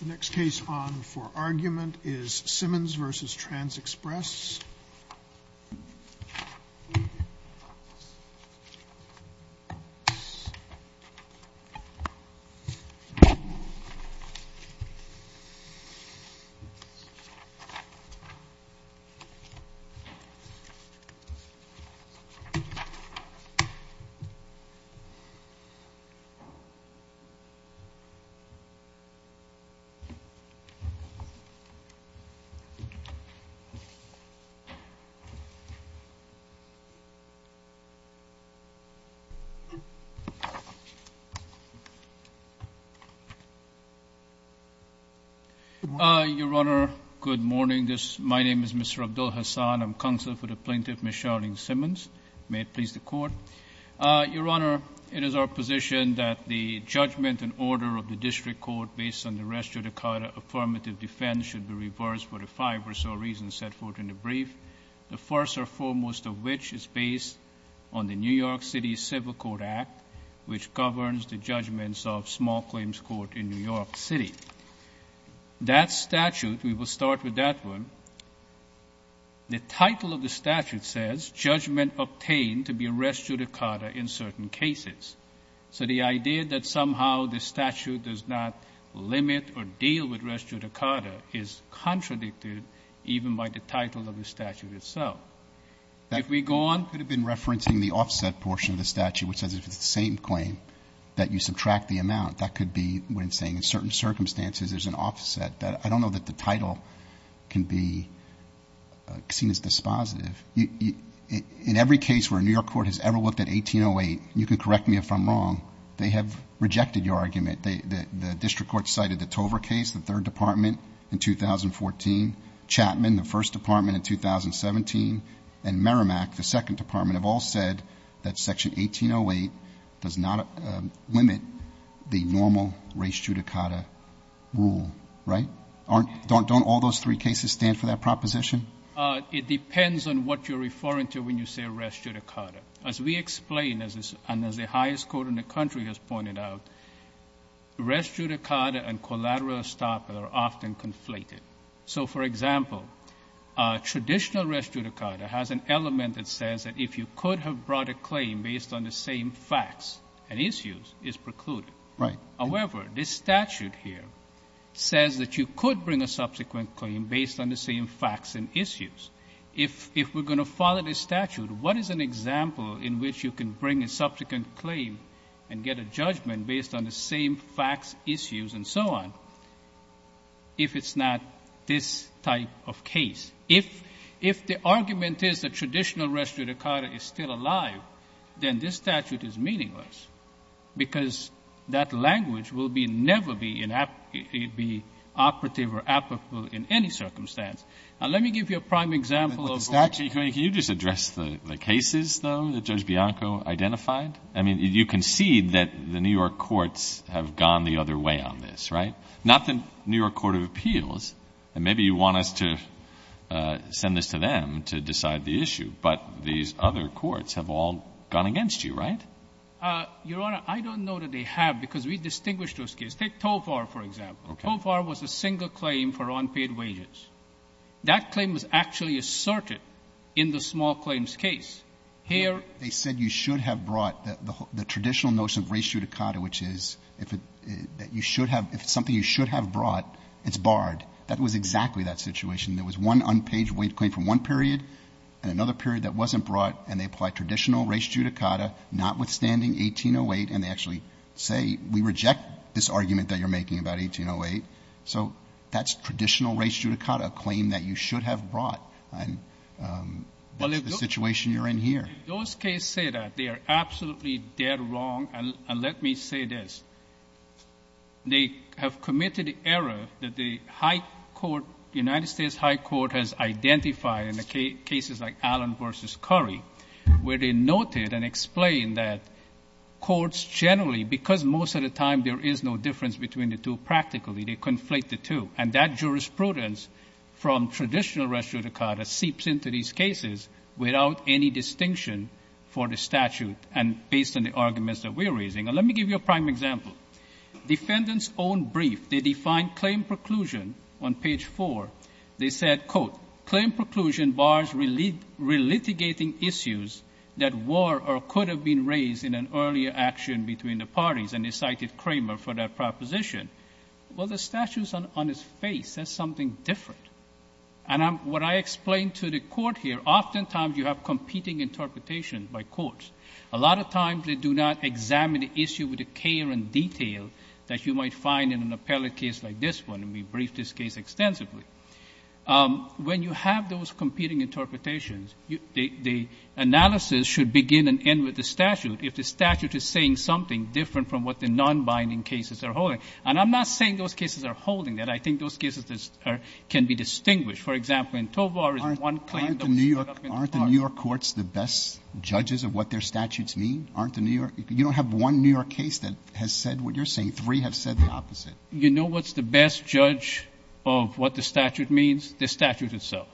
The next case on for argument is Simmons v. Trans Express. Your Honor, good morning. My name is Mr. Abdul-Hassan. I'm counselor for the plaintiff, Ms. Charlene Simmons. May it please the Court. Your Honor, it is our position that the judgment and order of the District Court based on the res judicata affirmative defense should be reversed for the five or so reasons set forth in the brief, the first or foremost of which is based on the New York City Civil Court Act, which governs the judgments of small claims court in New York City. That statute, we will start with that one. The title of the statute says judgment obtained to be res judicata in certain cases. So the idea that somehow the statute does not limit or deal with res judicata is contradicted even by the title of the statute itself. If we go on. Could have been referencing the offset portion of the statute, which says if it's the same claim that you subtract the amount, that could be when saying in certain circumstances there's an offset. I don't know that the title can be seen as dispositive. In every case where New York court has ever looked at 1808, you can correct me if I'm wrong, they have rejected your argument. The District Court cited the Tover case, the third department in 2014, Chapman, the first department in 2017, and Merrimack, the second department, have all said that section 1808 does not limit the normal res judicata rule. Right? Don't all those three cases stand for that proposition? It depends on what you're referring to when you say res judicata. As we explain, and as the highest court in the country has pointed out, res judicata and collateral estoppel are often conflated. So for example, traditional res judicata has an element that says that if you could have brought a claim based on the same facts and issues, it's precluded. However, this statute here says that you could bring a subsequent claim based on the same facts and issues. If we're going to follow this statute, what is an example in which you can bring a subsequent claim and get a judgment based on the same facts, issues, and so on, if it's not this type of case? If the argument is that traditional res judicata is still alive, then this statute is meaningless because that language will never be operative or applicable in any circumstance. Now, let me give you a prime example of the statute. Can you just address the cases, though, that Judge Bianco identified? I mean, you concede that the New York courts have gone the other way on this, right? Not the New York Court of Appeals, and maybe you want us to send this to them to decide the issue, but these other courts have all gone against you, right? Your Honor, I don't know that they have, because we distinguish those cases. Take Tovar, for example. Tovar was a single claim for unpaid wages. That claim was actually asserted in the small claims case. Here they said you should have brought the traditional notion of res judicata, which is that you should have — if it's something you should have brought, it's barred. That was exactly that situation. There was one unpaid wage claim from one period and another period that wasn't brought, and they apply traditional res judicata, notwithstanding 1808, and they actually say, we reject this argument that you're making about 1808. So that's traditional res judicata, a claim that you should have brought. And that's the situation you're in here. Those cases say that. They are absolutely dead wrong. And let me say this. They have committed the error that the High Court, the United States High Court has identified in the cases like Allen v. Curry, where they noted and explained that courts generally, because most of the time there is no difference between the two practically, they conflate the two. And that jurisprudence from traditional res judicata seeps into these cases without any distinction for the statute and based on the arguments that we're raising. And let me give you a prime example. Defendants' own brief, they define claim preclusion on page 4. They said, quote, claim preclusion bars relitigating issues that were or could have been raised in an earlier action between the parties. And they cited Kramer for that proposition. Well, the statute's on his face. That's something different. And what I explain to the court here, oftentimes you have competing interpretations by courts. A lot of times they do not examine the issue with the care and detail that you might find in an appellate case like this one. And we briefed this case extensively. When you have those competing interpretations, the analysis should begin and end with the statute if the statute is saying something different from what the nonbinding cases are holding. And I'm not saying those cases are holding that. I think those cases can be distinguished. For example, in Tovar, one claim that was put up in the court. Aren't the New York courts the best judges of what their statutes mean? Aren't the New York — you don't have one New York case that has said what you're saying. Three have said the opposite. You know what's the best judge of what the statute means? The statute itself.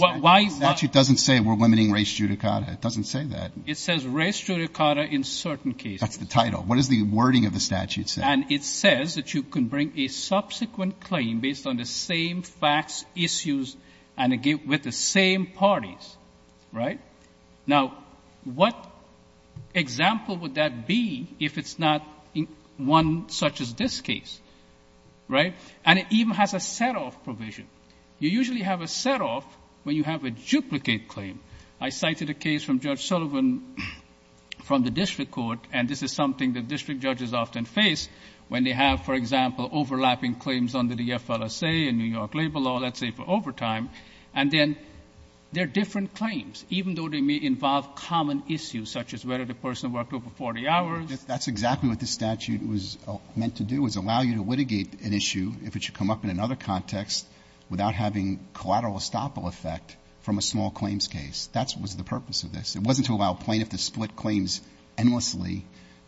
Why — The statute doesn't say we're limiting race judicata. It doesn't say that. It says race judicata in certain cases. That's the title. What does the wording of the statute say? And it says that you can bring a subsequent claim based on the same facts, issues, and again, with the same parties. Right? Now, what example would that be if it's not one such as this case? Right? And it even has a set-off provision. You usually have a set-off when you have a duplicate claim. I cited a case from Judge Sullivan from the district court, and this is something that district judges often face when they have, for example, overlapping claims under the FLSA and New York labor law, let's say for overtime. And then there are different claims, even though they may involve common issues, such as whether the person worked over 40 hours. That's exactly what the statute was meant to do, is allow you to litigate an issue if it should come up in another context without having collateral estoppel effect from a small claims case. That was the purpose of this. It wasn't to allow plaintiffs to split claims endlessly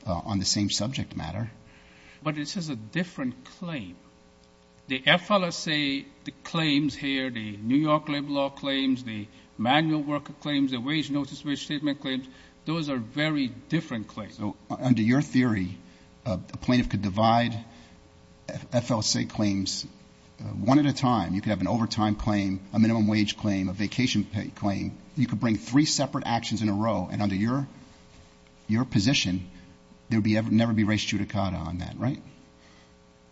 on the same subject matter. But this is a different claim. The FLSA claims here, the New York labor law claims, the manual worker claims, the wage notice, wage statement claims, those are very different claims. So under your theory, a plaintiff could divide FLSA claims one at a time. You could have an overtime claim, a minimum wage claim, a vacation claim. You could bring three separate actions in a row, and under your position, there would never be res judicata on that, right?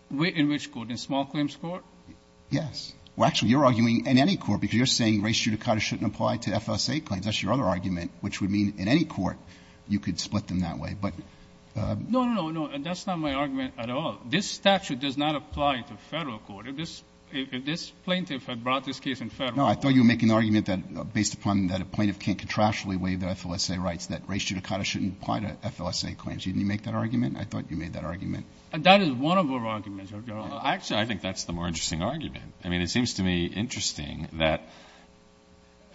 In which court? In small claims court? Yes. Well, actually, you're arguing in any court, because you're saying res judicata shouldn't apply to FLSA claims. That's your other argument, which would mean in any court you could split them that way. But no, no, no, that's not my argument at all. This statute does not apply to Federal court. If this plaintiff had brought this case in Federal court. No, I thought you were making the argument that based upon that a plaintiff can't contractually waive their FLSA rights, that res judicata shouldn't apply to FLSA claims. Didn't you make that argument? I thought you made that argument. That is one of our arguments, Your Honor. Actually, I think that's the more interesting argument. I mean, it seems to me interesting that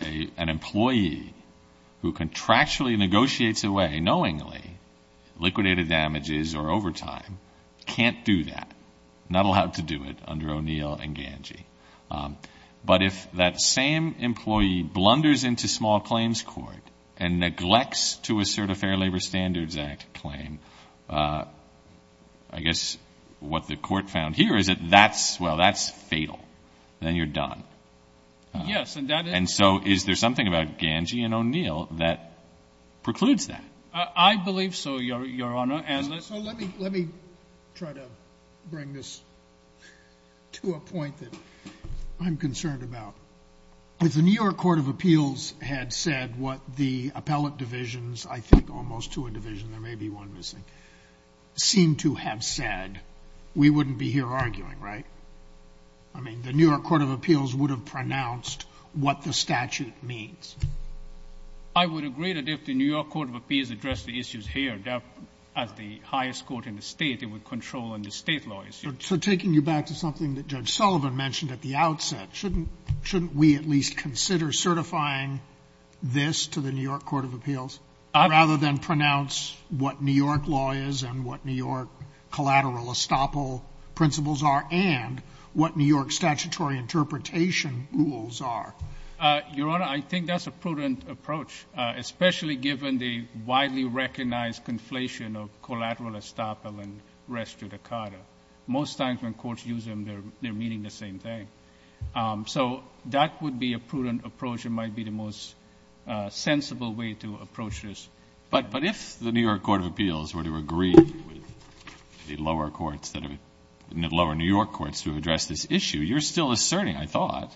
an employee who contractually negotiates away knowingly liquidated damages or overtime can't do that, not allowed to do it under O'Neill and Ganji. But if that same employee blunders into small claims court and neglects to assert a Fair Labor Standards Act claim, I guess what the court found here is that that's well, that's fatal. Then you're done. Yes, and that is. And so is there something about Ganji and O'Neill that precludes that? I believe so, Your Honor. So let me try to bring this to a point that I'm concerned about. If the New York Court of Appeals had said what the appellate divisions, I think almost two in division, there may be one missing, seem to have said, we wouldn't be here arguing, right? I mean, the New York Court of Appeals would have pronounced what the statute means. I would agree that if the New York Court of Appeals addressed the issues here, as the highest court in the state, it would control in the state law issues. So taking you back to something that Judge Sullivan mentioned at the outset, shouldn't we at least consider certifying this to the New York Court of Appeals, rather than pronounce what New York law is, and what New York collateral estoppel principles are, and what New York statutory interpretation rules are? Your Honor, I think that's a prudent approach, especially given the widely recognized conflation of collateral estoppel and res judicata. Most times when courts use them, they're meaning the same thing. So that would be a prudent approach, and might be the most sensible way to approach this. But if the New York Court of Appeals were to agree with the lower courts, the lower New York courts to address this issue, you're still asserting, I thought,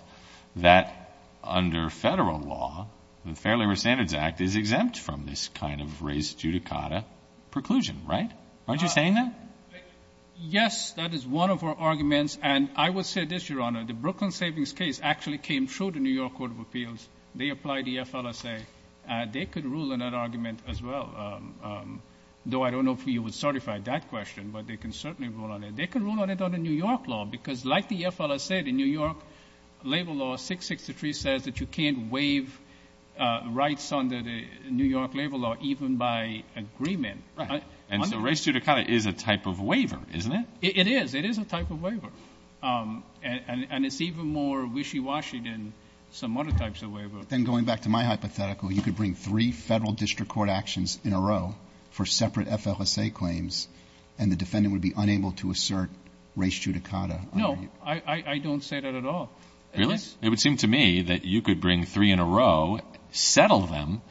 that under federal law, the Fair Labor Standards Act is exempt from this kind of res judicata preclusion, right? Aren't you saying that? Yes, that is one of our arguments. And I will say this, Your Honor. The Brooklyn Savings case actually came through the New York Court of Appeals. They applied the FLSA. They could rule in that argument as well. Though I don't know if you would certify that question, but they can certainly rule on it. They can rule on it under New York law, because like the FLSA, the New York labor law 663 says that you can't waive rights under the New York labor law, even by agreement. And so res judicata is a type of waiver, isn't it? It is. It is a type of waiver. And it's even more wishy-washy than some other types of waiver. Then going back to my hypothetical, you could bring three federal district court actions in a row for separate FLSA claims, and the defendant would be unable to assert res judicata. No, I don't say that at all. Really? It would seem to me that you could bring three in a row, settle them,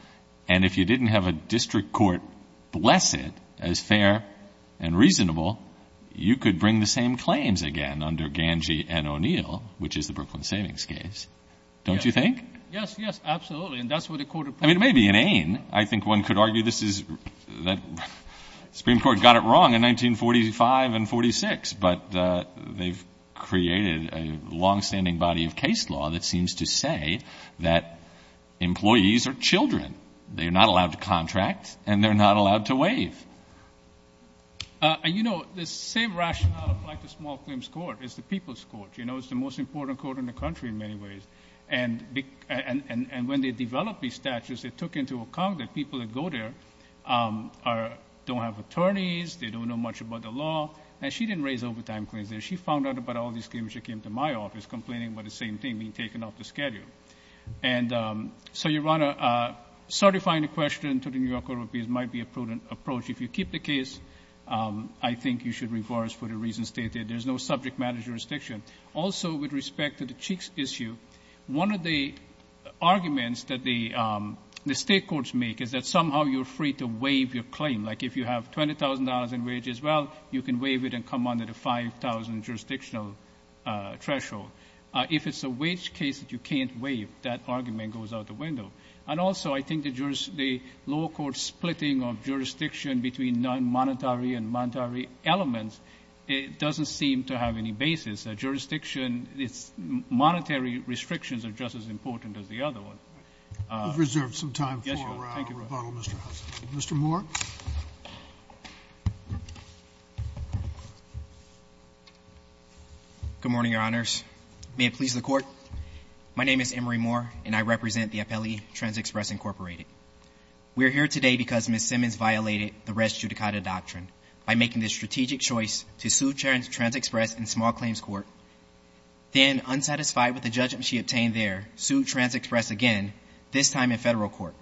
and if you didn't have a district court bless it as fair and reasonable, you could bring the same claims again under Ganji and O'Neill, which is the Brooklyn Savings case, don't you think? Yes, yes, absolutely. And that's what the court approved. I mean, it may be inane. I think one could argue that the Supreme Court got it wrong in 1945 and 46, but they've created a longstanding body of case law that seems to say that employees are children. They're not allowed to contract and they're not allowed to waive. And you know, the same rationale applied to Small Claims Court, it's the People's Court, you know, it's the most important court in the country in many ways, and when they developed these statutes, they took into account that people that go there don't have attorneys, they don't know much about the law, and she didn't raise overtime claims there. She found out about all these claims, she came to my office complaining about the same thing, me taking off the schedule. And so, Your Honor, certifying a question to the New York Court of Appeals might be a prudent approach. If you keep the case, I think you should reverse for the reasons stated. There's no subject matter jurisdiction. Also, with respect to the Cheeks issue, one of the arguments that the state courts make is that somehow you're free to waive your claim. Like, if you have $20,000 in wage as well, you can waive it and come under the $5,000 jurisdictional threshold. If it's a wage case that you can't waive, that argument goes out the window. And also, I think the law court splitting of jurisdiction between non-monetary and monetary elements, it doesn't seem to have any basis. A jurisdiction, its monetary restrictions are just as important as the other one. We've reserved some time for rebuttal, Mr. Hudson. Mr. Moore. Good morning, Your Honors. May it please the court. My name is Emory Moore, and I represent the appellee, TransExpress Incorporated. We're here today because Ms. Simmons violated the res judicata doctrine by making the strategic choice to sue TransExpress in small claims court. Then, unsatisfied with the judgment she obtained there, sued TransExpress again, this time in federal court.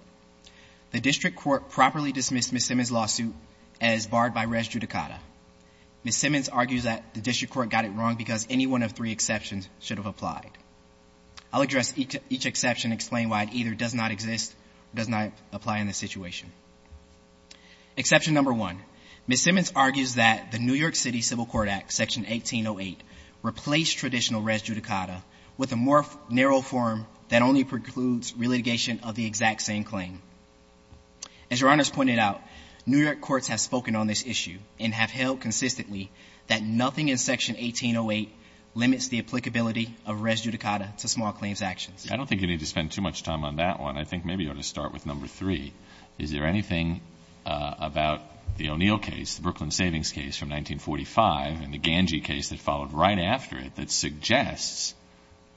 The district court properly dismissed Ms. Simmons' lawsuit as barred by res judicata. Ms. Simmons argues that the district court got it wrong because any one of three exceptions should have applied. I'll address each exception and explain why it either does not exist, does not apply in this situation. Exception number one, Ms. Simmons argues that the New York City Civil Court Act, section 1808, replaced traditional res judicata with a more narrow form that only precludes relitigation of the exact same claim. As Your Honors pointed out, New York courts have spoken on this issue and have held consistently that nothing in section 1808 limits the applicability of res judicata to small claims actions. I don't think you need to spend too much time on that one. I think maybe you ought to start with number three. Is there anything about the O'Neill case, the Brooklyn Savings case from 1945 and the Ganji case that followed right after it that suggests,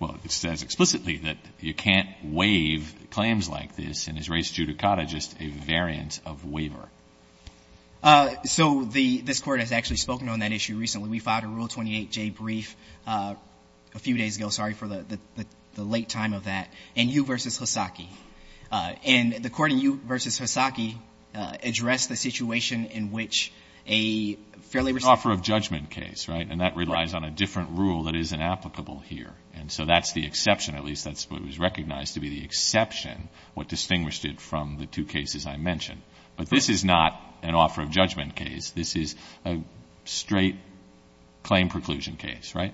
well, it says explicitly that you can't waive claims like this, and is res judicata just a variant of waiver? So this court has actually spoken on that issue recently. We filed a Rule 28J brief a few days ago, sorry for the late time of that, in Yu versus Hasaki. And the court in Yu versus Hasaki addressed the situation in which a fairly- An offer of judgment case, right? And that relies on a different rule that is inapplicable here. And so that's the exception, at least that's what was recognized to be the exception, what distinguished it from the two cases I mentioned. But this is not an offer of judgment case, this is a straight claim preclusion case, right?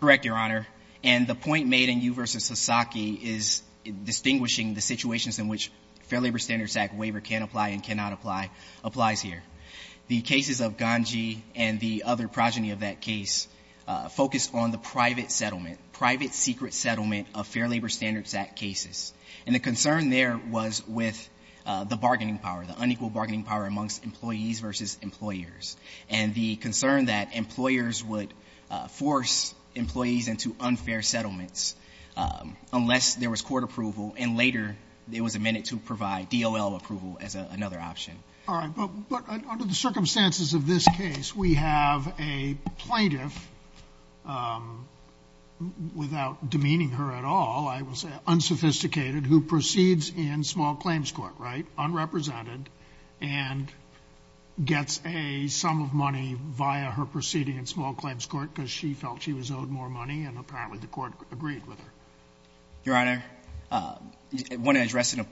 Correct, Your Honor. And the point made in Yu versus Hasaki is distinguishing the situations in which Fair Labor Standards Act waiver can apply and cannot apply applies here. The cases of Ganji and the other progeny of that case focused on the private settlement, private secret settlement of Fair Labor Standards Act cases. And the concern there was with the bargaining power, the unequal bargaining power amongst employees versus employers. And the concern that employers would force employees into unfair settlements unless there was court approval. And later, it was amended to provide DOL approval as another option. All right, but under the circumstances of this case, we have a plaintiff, without demeaning her at all, I will say unsophisticated, who proceeds in small claims court, right? Unrepresented, and gets a sum of money via her proceeding in small claims court because she felt she was owed more money and apparently the court agreed with her. Your Honor, I want to address a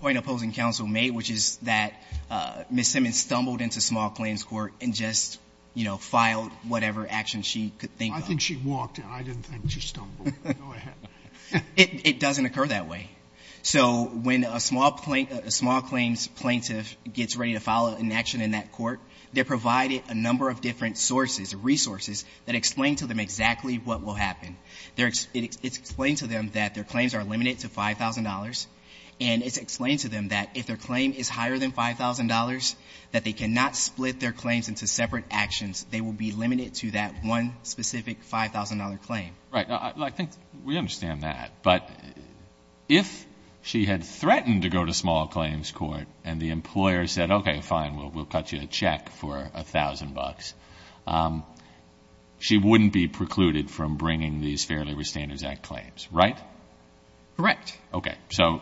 point opposing counsel made, which is that Ms. Simmons stumbled into small claims court and just filed whatever action she could think of. I think she walked in. I didn't think she stumbled. Go ahead. It doesn't occur that way. So when a small claims plaintiff gets ready to file an action in that court, they're provided a number of different sources, resources, that explain to them exactly what will happen. It's explained to them that their claims are limited to $5,000, and it's explained to them that if their claim is higher than $5,000, that they cannot split their claims into separate actions. They will be limited to that one specific $5,000 claim. Right, I think we understand that. But if she had threatened to go to small claims court and the employer said, okay, fine, we'll cut you a check for $1,000, $1,000, she wouldn't be precluded from bringing these Fair Labor Standards Act claims, right? Correct. Okay,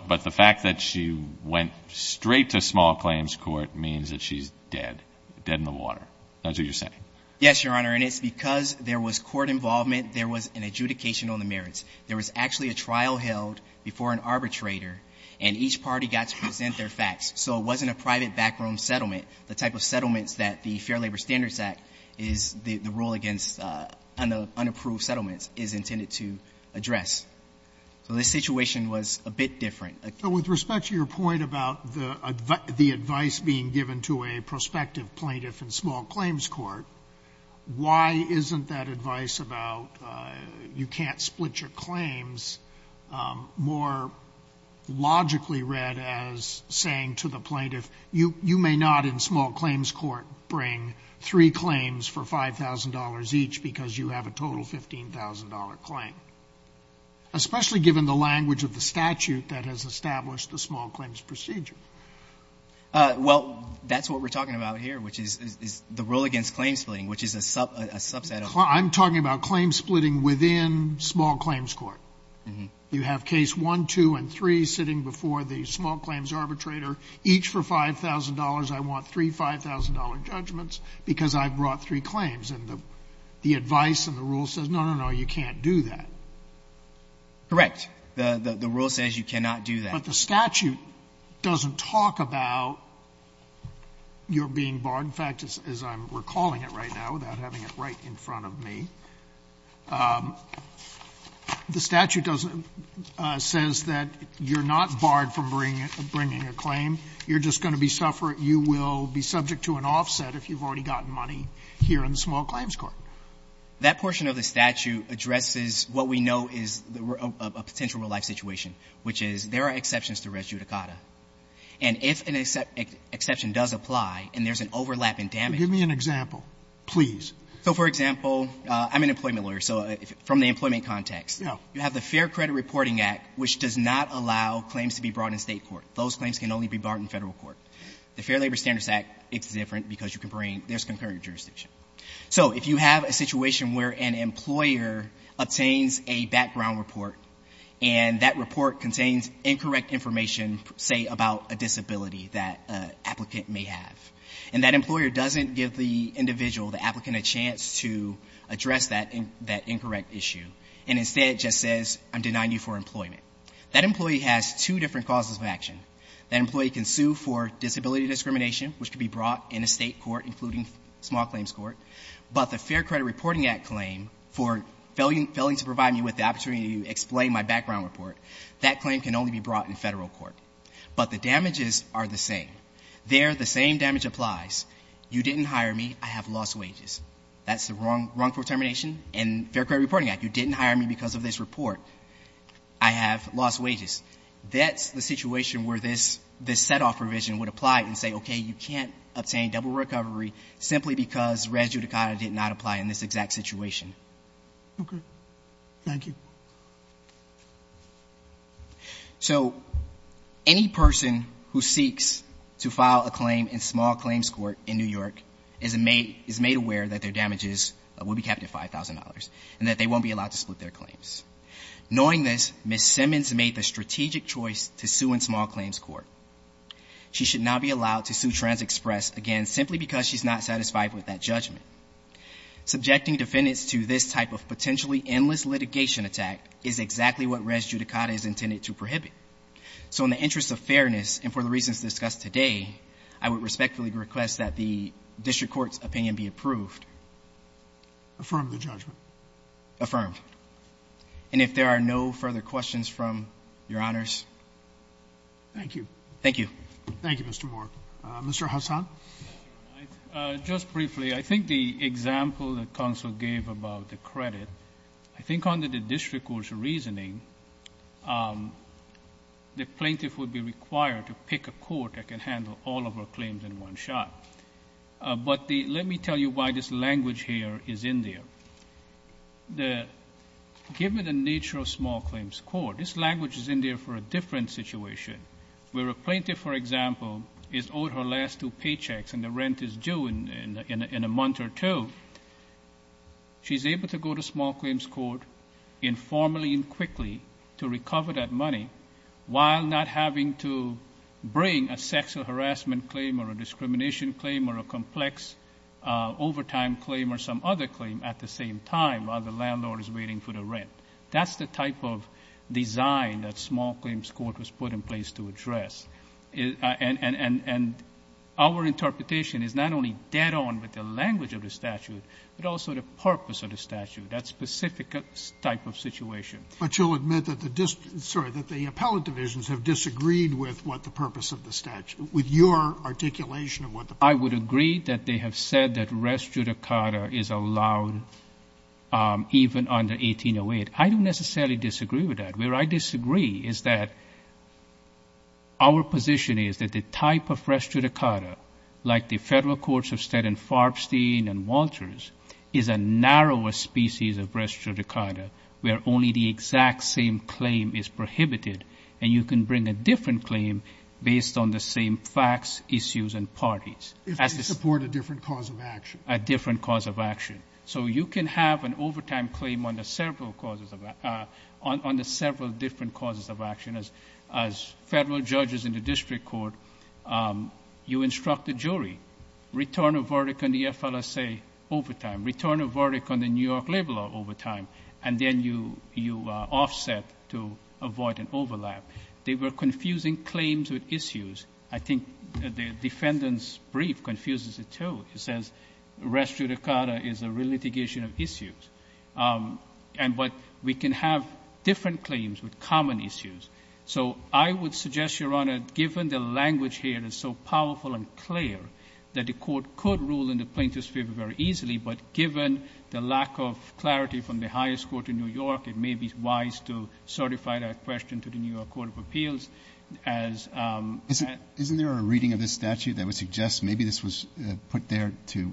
but the fact that she went straight to small claims court means that she's dead, dead in the water. That's what you're saying. Yes, Your Honor, and it's because there was court involvement, there was an adjudication on the merits. There was actually a trial held before an arbitrator, and each party got to present their facts. So it wasn't a private backroom settlement. The type of settlements that the Fair Labor Standards Act is the rule against unapproved settlements is intended to address. So this situation was a bit different. So with respect to your point about the advice being given to a prospective plaintiff in small claims court, why isn't that advice about you can't split your claims more logically read as saying to the plaintiff, you may not insist that you on small claims court bring three claims for $5,000 each because you have a total $15,000 claim. Especially given the language of the statute that has established the small claims procedure. Well, that's what we're talking about here, which is the rule against claim splitting, which is a subset of- I'm talking about claim splitting within small claims court. You have case one, two, and three sitting before the small claims arbitrator. Each for $5,000, I want three $5,000 judgments because I brought three claims. And the advice and the rule says, no, no, no, you can't do that. Correct. The rule says you cannot do that. But the statute doesn't talk about your being barred. In fact, as I'm recalling it right now without having it right in front of me, the you're just going to be subject to an offset if you've already gotten money here in the small claims court. That portion of the statute addresses what we know is a potential real-life situation, which is there are exceptions to res judicata. And if an exception does apply and there's an overlap in damage- Give me an example, please. So, for example, I'm an employment lawyer. So from the employment context, you have the Fair Credit Reporting Act, which does not allow claims to be brought in State court. Those claims can only be brought in Federal court. The Fair Labor Standards Act, it's different because you can bring- there's concurrent jurisdiction. So if you have a situation where an employer obtains a background report, and that report contains incorrect information, say, about a disability that an applicant may have, and that employer doesn't give the individual, the applicant, a chance to address that incorrect issue, and instead just says, I'm denying you for employment. That employee has two different causes of action. That employee can sue for disability discrimination, which can be brought in a State court, including small claims court. But the Fair Credit Reporting Act claim for failing to provide me with the opportunity to explain my background report, that claim can only be brought in Federal court. But the damages are the same. There, the same damage applies. You didn't hire me, I have lost wages. That's the wrongful termination. In Fair Credit Reporting Act, you didn't hire me because of this report. I have lost wages. That's the situation where this set off provision would apply and say, okay, you can't obtain double recovery simply because res judicata did not apply in this exact situation. Okay, thank you. So, any person who seeks to file a claim in small claims court in New York is made aware that their damages will be capped at $5,000, and that they won't be allowed to split their claims. Knowing this, Ms. Simmons made the strategic choice to sue in small claims court. She should not be allowed to sue Trans Express again, simply because she's not satisfied with that judgment. Subjecting defendants to this type of potentially endless litigation attack is exactly what res judicata is intended to prohibit. So in the interest of fairness, and for the reasons discussed today, I would respectfully request that the district court's opinion be approved. Affirm the judgment. Affirmed. And if there are no further questions from your honors. Thank you. Thank you. Thank you, Mr. Moore. Mr. Hassan? Just briefly, I think the example that counsel gave about the credit, I think under the district court's reasoning, the plaintiff would be required to pick a court that can handle all of her claims in one shot. But let me tell you why this language here is in there. Given the nature of small claims court, this language is in there for a different situation. Where a plaintiff, for example, is owed her last two paychecks, and the rent is due in a month or two. She's able to go to small claims court informally and quickly to recover that money. While not having to bring a sexual harassment claim, or a discrimination claim, or a complex overtime claim, or some other claim at the same time while the landlord is waiting for the rent. That's the type of design that small claims court was put in place to address. And our interpretation is not only dead on with the language of the statute, but also the purpose of the statute, that specific type of situation. But you'll admit that the, sorry, that the appellate divisions have disagreed with what the purpose of the statute, with your articulation of what the purpose- I would agree that they have said that rest judicata is allowed even under 1808. I don't necessarily disagree with that. Where I disagree is that our position is that the type of rest judicata, like the Federal Courts of Staten, Farbstein, and Walters, is a narrower species of rest judicata. Where only the exact same claim is prohibited, and you can bring a different claim based on the same facts, issues, and parties. If they support a different cause of action. A different cause of action. So you can have an overtime claim on the several different causes of action. As federal judges in the district court, you instruct the jury. Return a verdict on the FLSA overtime. Return a verdict on the New York labor law overtime. And then you offset to avoid an overlap. They were confusing claims with issues. I think the defendant's brief confuses it too. It says rest judicata is a relitigation of issues. And but we can have different claims with common issues. So I would suggest, Your Honor, given the language here is so powerful and clear that the court could rule in the plaintiff's favor very easily, but given the lack of clarity from the highest court in New York, it may be wise to certify that question to the New York Court of Appeals as- Is there to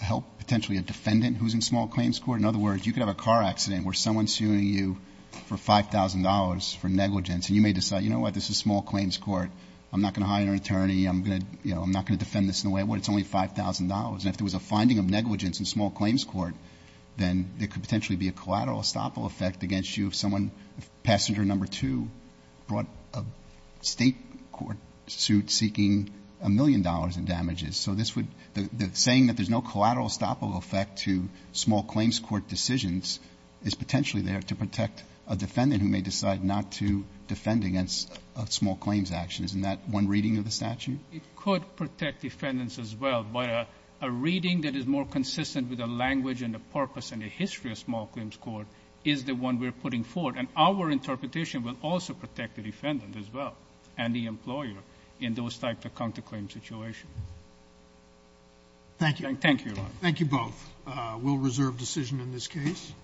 help potentially a defendant who's in small claims court? In other words, you could have a car accident where someone's suing you for $5,000 for negligence. And you may decide, you know what, this is small claims court. I'm not going to hire an attorney, I'm not going to defend this in a way where it's only $5,000. And if there was a finding of negligence in small claims court, then there could potentially be a collateral estoppel effect against you if someone, passenger number two, brought a state court suit seeking a million dollars in damages. So this would, the saying that there's no collateral estoppel effect to small claims court decisions is potentially there to protect a defendant who may decide not to defend against a small claims action. Isn't that one reading of the statute? It could protect defendants as well, but a reading that is more consistent with the language and the purpose and the history of small claims court is the one we're putting forward. And our interpretation will also protect the defendant as well and the employer in those type of counterclaim situation. Thank you. Thank you. Thank you both. We'll reserve decision in this case.